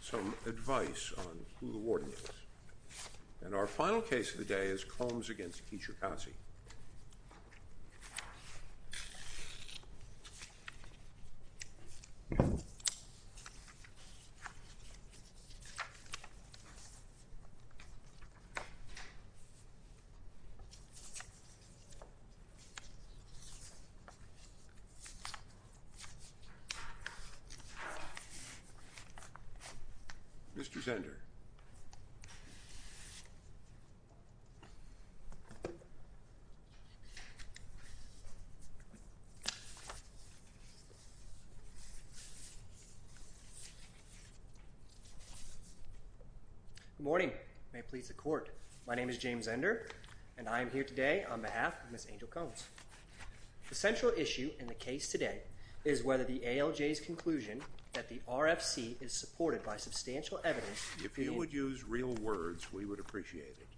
some advice on who the warden is. And our final case of the day is Combs v. Kijakazi. Mr. Zender. Good morning. May it please the court. My name is James Zender and I am here today on behalf of Ms. Angel Combs. The central issue in the case today is whether the ALJ's conclusion that the RFC is supported by substantial evidence. If you would use real words we would appreciate it.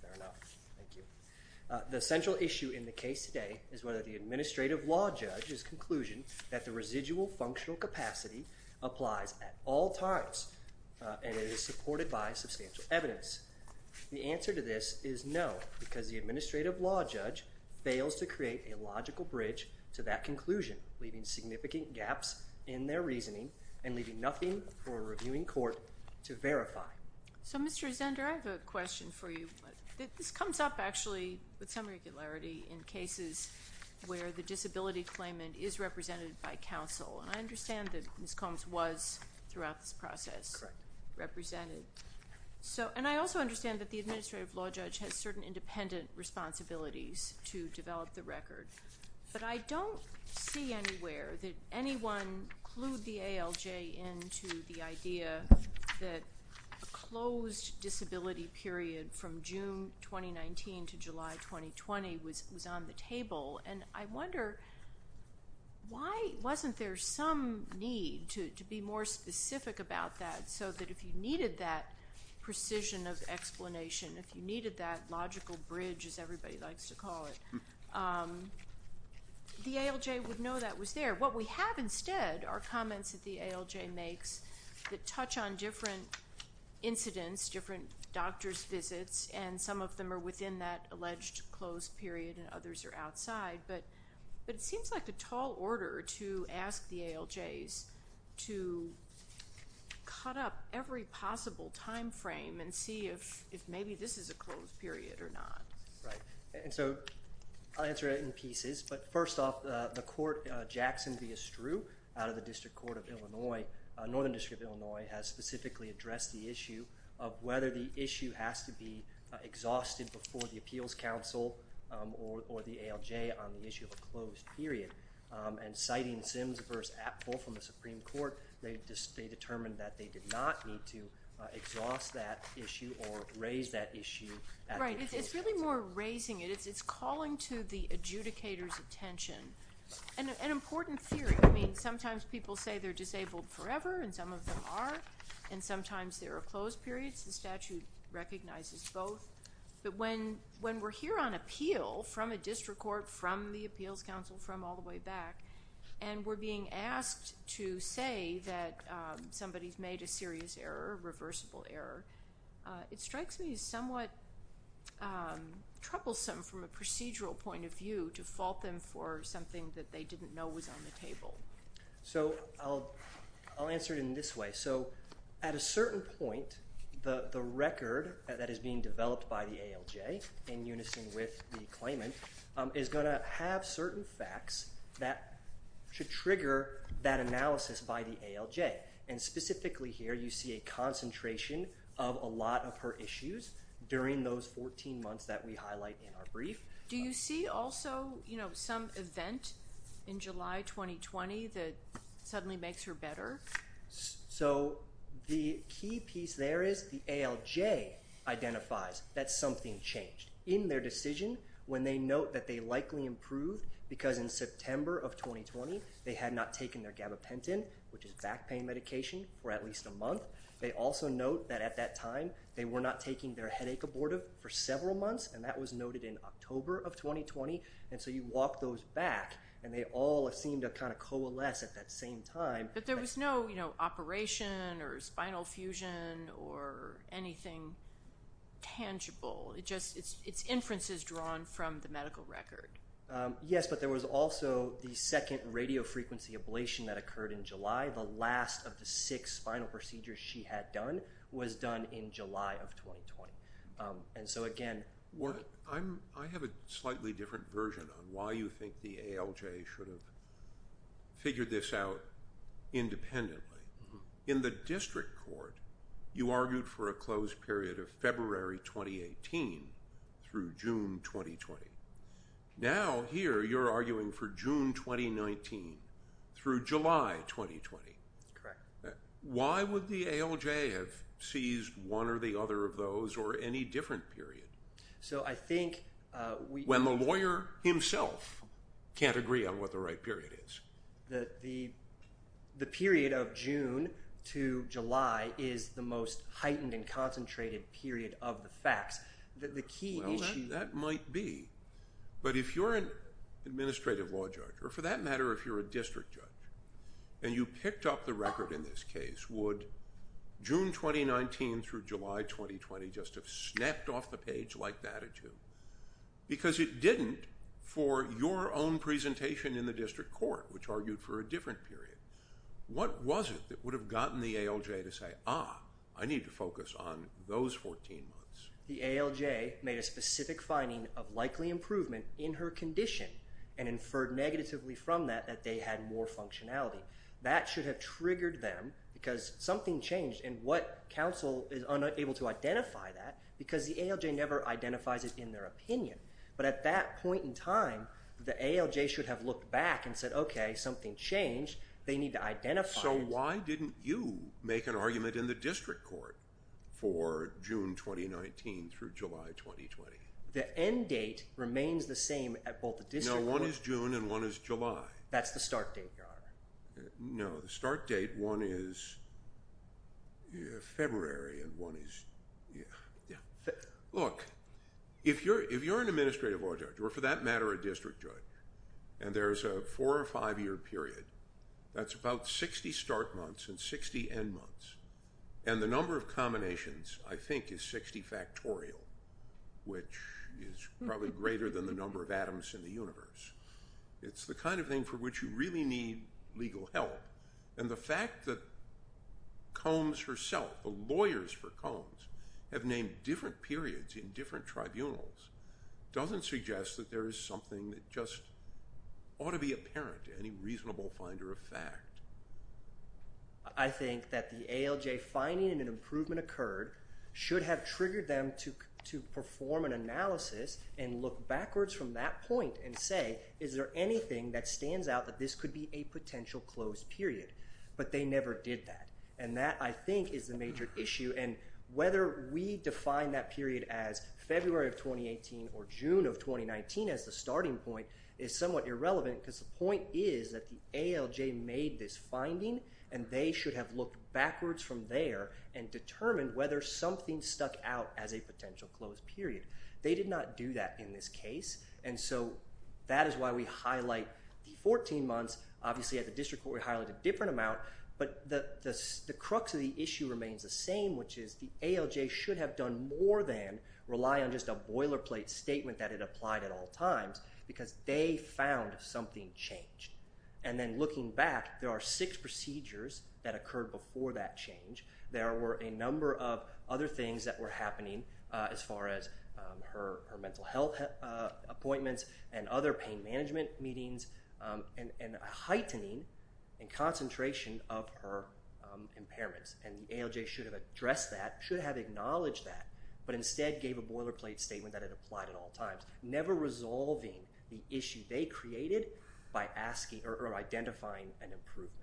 Fair enough. Thank you. The central issue in the case today is whether the administrative law judge's conclusion that the residual functional capacity applies at all times and it is supported by substantial evidence. The answer to this is no because the administrative law judge fails to create a logical bridge to that conclusion, leaving significant gaps in their reasoning and leaving nothing for a reviewing court to verify. So Mr. Zender, I have a question for you. This comes up actually with some regularity in cases where the disability claimant is represented by counsel. And I understand that Ms. Combs was throughout this process represented. And I also understand that the administrative law judge has certain independent responsibilities to develop the record. But I don't see anywhere that anyone clued the ALJ into the idea that a closed disability period from June 2019 to July 2020 was on the table. And I wonder why wasn't there some need to be more specific about that so that if you needed that precision of explanation, if you needed that logical bridge as everybody likes to call it, the ALJ would know that was there. What we have instead are comments that the ALJ makes that touch on different incidents, different doctors' visits, and some of them are within that alleged closed period and others are outside. But it seems like a tall order to ask the ALJs to cut up every possible time frame and see if maybe this is a closed period or not. Right. And so I'll answer it in pieces. But first off, the court Jackson v. Estru out of the District Court of Illinois, Northern District of Illinois, has specifically addressed the issue of whether the issue has to be exhausted before the Appeals Council or the ALJ on the issue of a closed period. And citing Sims v. Apfel from the Supreme Court, they determined that they did not need to exhaust that issue or raise that issue at the Appeals Council. Right. It's really more raising it. It's calling to the adjudicator's attention. An important theory. I mean, sometimes people say they're disabled forever, and some of them are, and sometimes there are closed periods. The statute recognizes both. But when we're here on appeal from a district court, from the Appeals Council, from all the way back, and we're being asked to say that somebody's made a serious error, a reversible error, it strikes me as somewhat troublesome from a procedural point of view to fault them for something that they didn't know was on the table. So I'll answer it in this way. So at a certain point, the record that is being developed by the ALJ in unison with the claimant is going to have certain facts that should trigger that analysis by the ALJ. And specifically here, you see a concentration of a lot of her issues during those 14 months that we highlight in our brief. Do you see also, you know, some event in July 2020 that suddenly makes her better? So the key piece there is the ALJ identifies that something changed in their decision when they note that they likely improved because in September of 2020, they had not taken their gabapentin, which is back pain medication, for at least a month. They also note that at that time, they were not taking their headache abortive for several months, and that was noted in October of 2020. And so you walk those back, and they all seem to kind of coalesce at that same time. But there was no, you know, operation or spinal fusion or anything tangible. It's inferences drawn from the medical record. Yes, but there was also the second radiofrequency ablation that occurred in July. The last of the six spinal procedures she had done was done in July of 2020. And so, again, work— I have a slightly different version on why you think the ALJ should have figured this out independently. In the district court, you argued for a closed period of February 2018 through June 2020. Now here, you're arguing for June 2019 through July 2020. Correct. Why would the ALJ have seized one or the other of those or any different period? So I think we— When the lawyer himself can't agree on what the right period is. The period of June to July is the most heightened and concentrated period of the facts. Well, that might be. But if you're an administrative law judge, or for that matter, if you're a district judge, and you picked up the record in this case, would June 2019 through July 2020 just have snapped off the page like that at you? Because it didn't for your own presentation in the district court, which argued for a different period. What was it that would have gotten the ALJ to say, ah, I need to focus on those 14 months? The ALJ made a specific finding of likely improvement in her condition and inferred negatively from that that they had more functionality. That should have triggered them because something changed, and what counsel is unable to identify that because the ALJ never identifies it in their opinion. But at that point in time, the ALJ should have looked back and said, okay, something changed. They need to identify it. So why didn't you make an argument in the district court for June 2019 through July 2020? The end date remains the same at both the district court. No, one is June and one is July. That's the start date, Your Honor. No, the start date, one is February and one is – look, if you're an administrative law judge, or for that matter, a district judge, and there's a four- or five-year period, that's about 60 start months and 60 end months, and the number of combinations, I think, is 60 factorial, which is probably greater than the number of atoms in the universe. It's the kind of thing for which you really need legal help. And the fact that Combs herself, the lawyers for Combs, have named different periods in different tribunals doesn't suggest that there is something that just ought to be apparent to any reasonable finder of fact. I think that the ALJ finding an improvement occurred should have triggered them to perform an analysis and look backwards from that point and say, is there anything that stands out that this could be a potential closed period? But they never did that, and that, I think, is the major issue. And whether we define that period as February of 2018 or June of 2019 as the starting point is somewhat irrelevant because the point is that the ALJ made this finding, and they should have looked backwards from there and determined whether something stuck out as a potential closed period. They did not do that in this case, and so that is why we highlight the 14 months. Obviously, at the district court, we highlight a different amount, but the crux of the issue remains the same, which is the ALJ should have done more than rely on just a boilerplate statement that it applied at all times because they found something changed. And then looking back, there are six procedures that occurred before that change. There were a number of other things that were happening as far as her mental health appointments and other pain management meetings and a heightening in concentration of her impairments. And the ALJ should have addressed that, should have acknowledged that, but instead gave a boilerplate statement that it applied at all times, never resolving the issue they created by asking or identifying an improvement.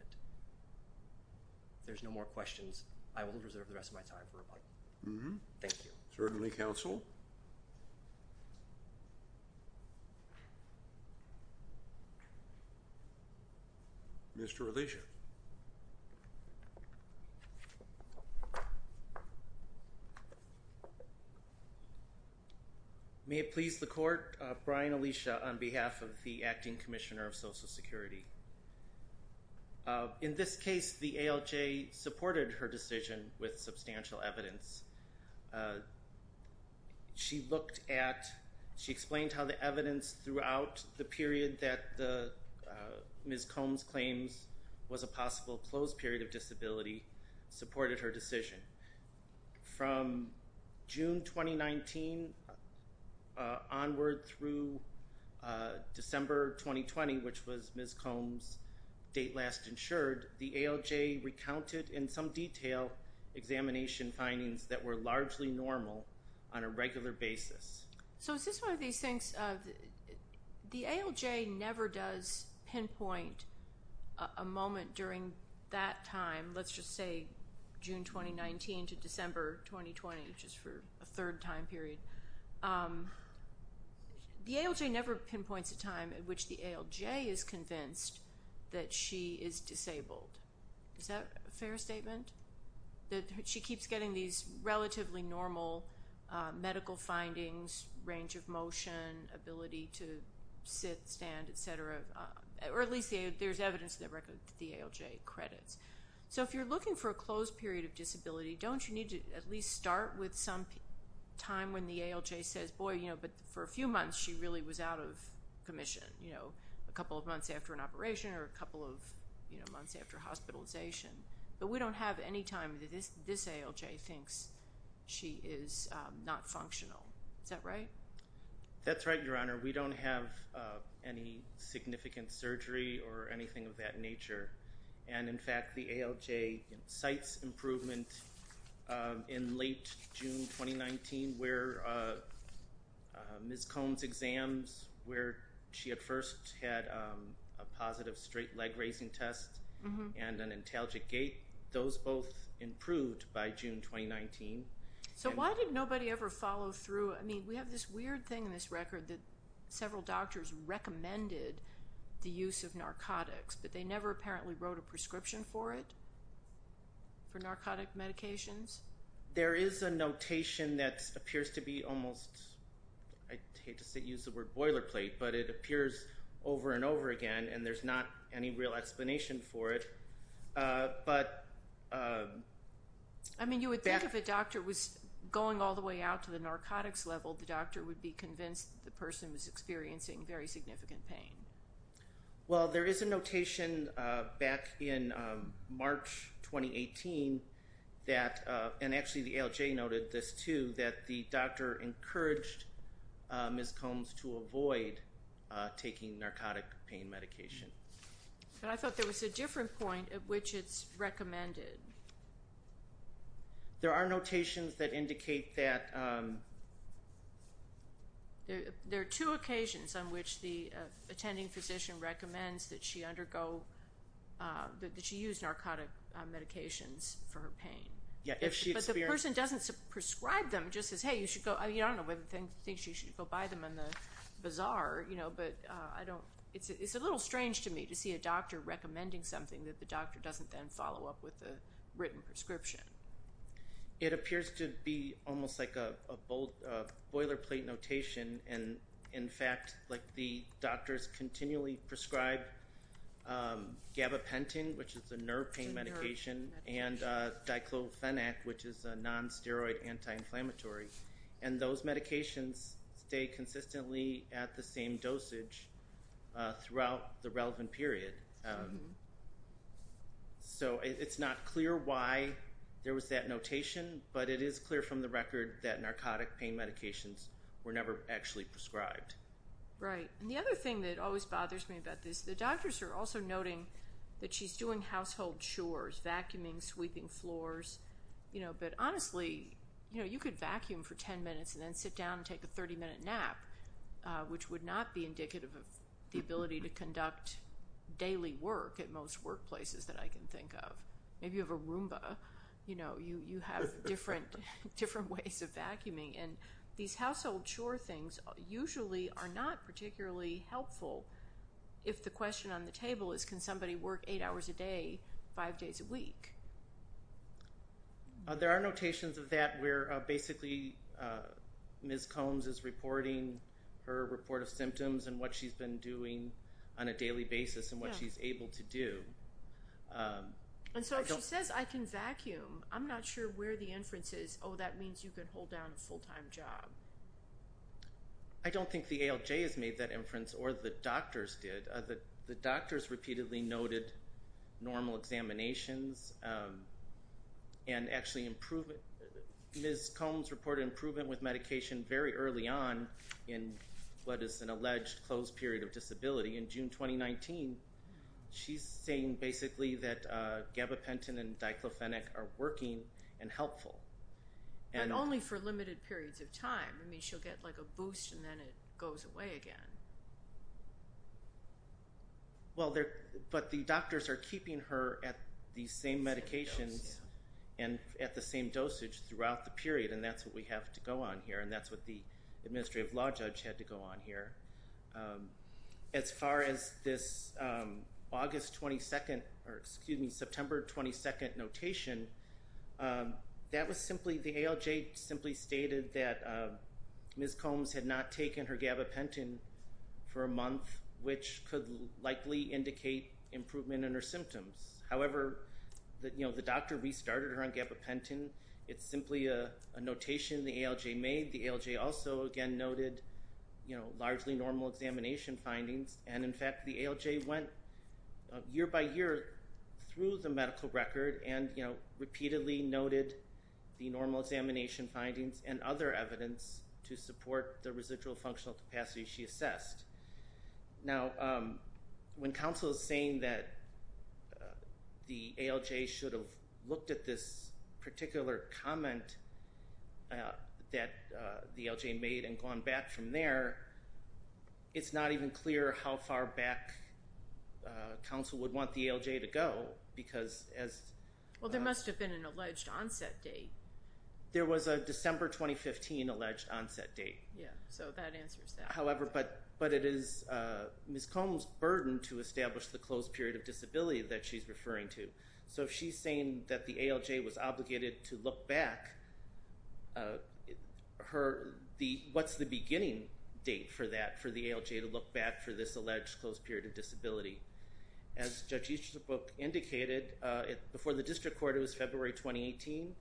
If there's no more questions, I will reserve the rest of my time for rebuttal. Thank you. Certainly, counsel. Mr. Alicia. May it please the Court, Brian Alicia on behalf of the Acting Commissioner of Social Security. In this case, the ALJ supported her decision with substantial evidence. She looked at, she explained how the evidence throughout the period that Ms. Combs claims was a possible closed period of disability supported her decision. From June 2019 onward through December 2020, which was Ms. Combs' date last insured, the ALJ recounted in some detail examination findings that were largely normal on a regular basis. So is this one of these things, the ALJ never does pinpoint a moment during that time, let's just say June 2019 to December 2020, which is for a third time period. The ALJ never pinpoints a time in which the ALJ is convinced that she is disabled. Is that a fair statement? That she keeps getting these relatively normal medical findings, range of motion, ability to sit, stand, et cetera, or at least there's evidence that the ALJ credits. So if you're looking for a closed period of disability, don't you need to at least start with some time when the ALJ says, boy, but for a few months she really was out of commission, a couple of months after an operation or a couple of months after hospitalization. But we don't have any time that this ALJ thinks she is not functional. Is that right? That's right, Your Honor. We don't have any significant surgery or anything of that nature. And in fact, the ALJ cites improvement in late June 2019 where Ms. Cohn's exams, where she at first had a positive straight leg raising test and an intalgic gait, those both improved by June 2019. So why did nobody ever follow through? I mean, we have this weird thing in this record that several doctors recommended the use of narcotics, but they never apparently wrote a prescription for it, for narcotic medications? There is a notation that appears to be almost, I hate to use the word boilerplate, but it appears over and over again and there's not any real explanation for it. I mean, you would think if a doctor was going all the way out to the narcotics level, the doctor would be convinced the person was experiencing very significant pain. Well, there is a notation back in March 2018 that, and actually the ALJ noted this too, that the doctor encouraged Ms. Cohn's to avoid taking narcotic pain medication. But I thought there was a different point at which it's recommended. There are notations that indicate that... There are two occasions on which the attending physician recommends that she undergo, that she use narcotic medications for her pain. Yeah, if she experienced... But the person doesn't prescribe them, just says, hey, you should go, I mean, I don't know whether they think she should go buy them in the bazaar, you know, but I don't... It's a little strange to me to see a doctor recommending something that the doctor doesn't then follow up with a written prescription. It appears to be almost like a boilerplate notation and, in fact, like the doctors continually prescribe gabapentin, which is a nerve pain medication, and diclofenac, which is a non-steroid anti-inflammatory, and those medications stay consistently at the same dosage throughout the relevant period. So it's not clear why there was that notation, but it is clear from the record that narcotic pain medications were never actually prescribed. Right. And the other thing that always bothers me about this, the doctors are also noting that she's doing household chores, vacuuming, sweeping floors, you know, and then sit down and take a 30-minute nap, which would not be indicative of the ability to conduct daily work at most workplaces that I can think of. Maybe you have a Roomba. You know, you have different ways of vacuuming, and these household chore things usually are not particularly helpful if the question on the table is, can somebody work eight hours a day, five days a week? There are notations of that where basically Ms. Combs is reporting her report of symptoms and what she's been doing on a daily basis and what she's able to do. And so if she says, I can vacuum, I'm not sure where the inference is, oh, that means you can hold down a full-time job. I don't think the ALJ has made that inference or the doctors did. The doctors repeatedly noted normal examinations and actually improvement. Ms. Combs reported improvement with medication very early on in what is an alleged closed period of disability. In June 2019, she's saying basically that gabapentin and diclofenac are working and helpful. I mean, she'll get like a boost and then it goes away again. Well, but the doctors are keeping her at the same medications and at the same dosage throughout the period, and that's what we have to go on here, and that's what the administrative law judge had to go on here. As far as this August 22nd, or excuse me, September 22nd notation, that was simply the ALJ simply stated that Ms. Combs had not taken her gabapentin for a month, which could likely indicate improvement in her symptoms. However, the doctor restarted her on gabapentin. It's simply a notation the ALJ made. The ALJ also, again, noted largely normal examination findings, and, in fact, the ALJ went year by year through the medical record and, you know, repeatedly noted the normal examination findings and other evidence to support the residual functional capacity she assessed. Now, when counsel is saying that the ALJ should have looked at this particular comment that the ALJ made and gone back from there, it's not even clear how far back counsel would want the ALJ to go because as... Well, there must have been an alleged onset date. There was a December 2015 alleged onset date. Yeah, so that answers that. However, but it is Ms. Combs' burden to establish the closed period of disability that she's referring to. So if she's saying that the ALJ was obligated to look back, what's the beginning date for that, for the ALJ to look back for this alleged closed period of disability? As Judge Easterbrook indicated, before the district court it was February 2018,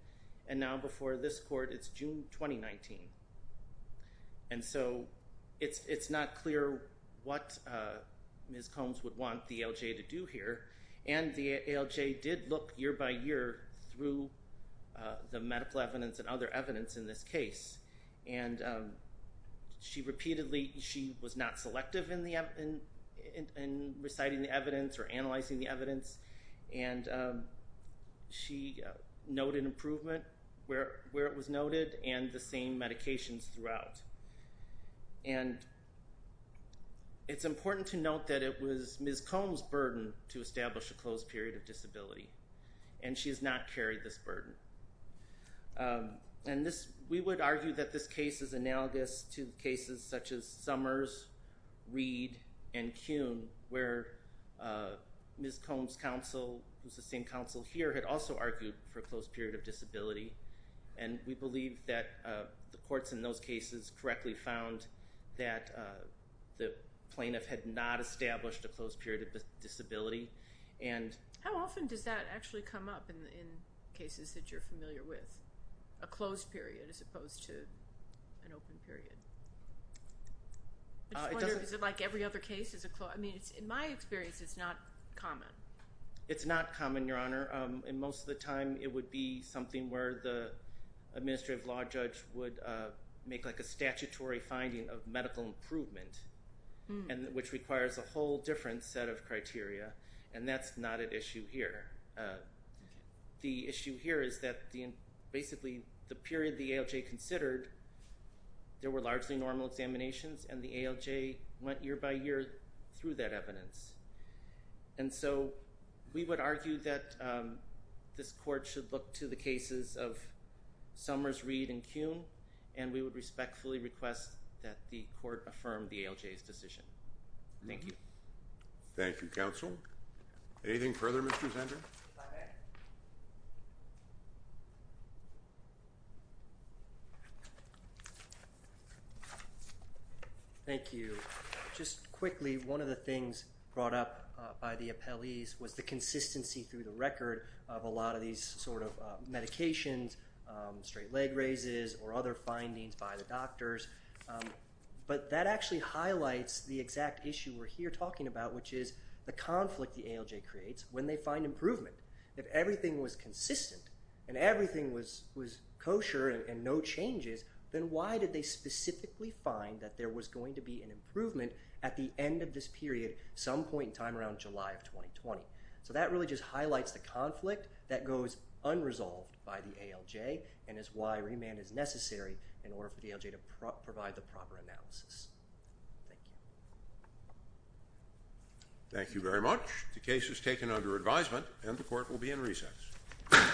and now before this court it's June 2019. And so it's not clear what Ms. Combs would want the ALJ to do here, and the ALJ did look year by year through the medical evidence and other evidence in this case. And she repeatedly, she was not selective in reciting the evidence or analyzing the evidence, and she noted improvement where it was noted and the same medications throughout. And it's important to note that it was Ms. Combs' burden to establish a closed period of disability, and she has not carried this burden. And we would argue that this case is analogous to cases such as Summers, Reed, and Kuhn, where Ms. Combs' counsel, who's the same counsel here, had also argued for a closed period of disability, and we believe that the courts in those cases correctly found that the plaintiff had not established a closed period of disability. How often does that actually come up in cases that you're familiar with? A closed period as opposed to an open period? I just wonder, is it like every other case? I mean, in my experience it's not common. It's not common, Your Honor. And most of the time it would be something where the administrative law judge would make, like, a statutory finding of medical improvement, which requires a whole different set of criteria, and that's not an issue here. The issue here is that basically the period the ALJ considered, there were largely normal examinations, and the ALJ went year by year through that evidence. And so we would argue that this court should look to the cases of Summers, Reed, and Kuhn, and we would respectfully request that the court affirm the ALJ's decision. Thank you. Thank you, counsel. Anything further, Mr. Zender? Thank you. Just quickly, one of the things brought up by the appellees was the consistency through the record of a lot of these sort of medications, straight leg raises, or other findings by the doctors. But that actually highlights the exact issue we're here talking about, which is the conflict the ALJ creates when they find improvement. If everything was consistent and everything was kosher and no changes, then why did they specifically find that there was going to be an improvement at the end of this period some point in time around July of 2020? So that really just highlights the conflict that goes unresolved by the ALJ and is why remand is necessary in order for the ALJ to provide the proper analysis. Thank you. Thank you very much. The case is taken under advisement, and the court will be in recess.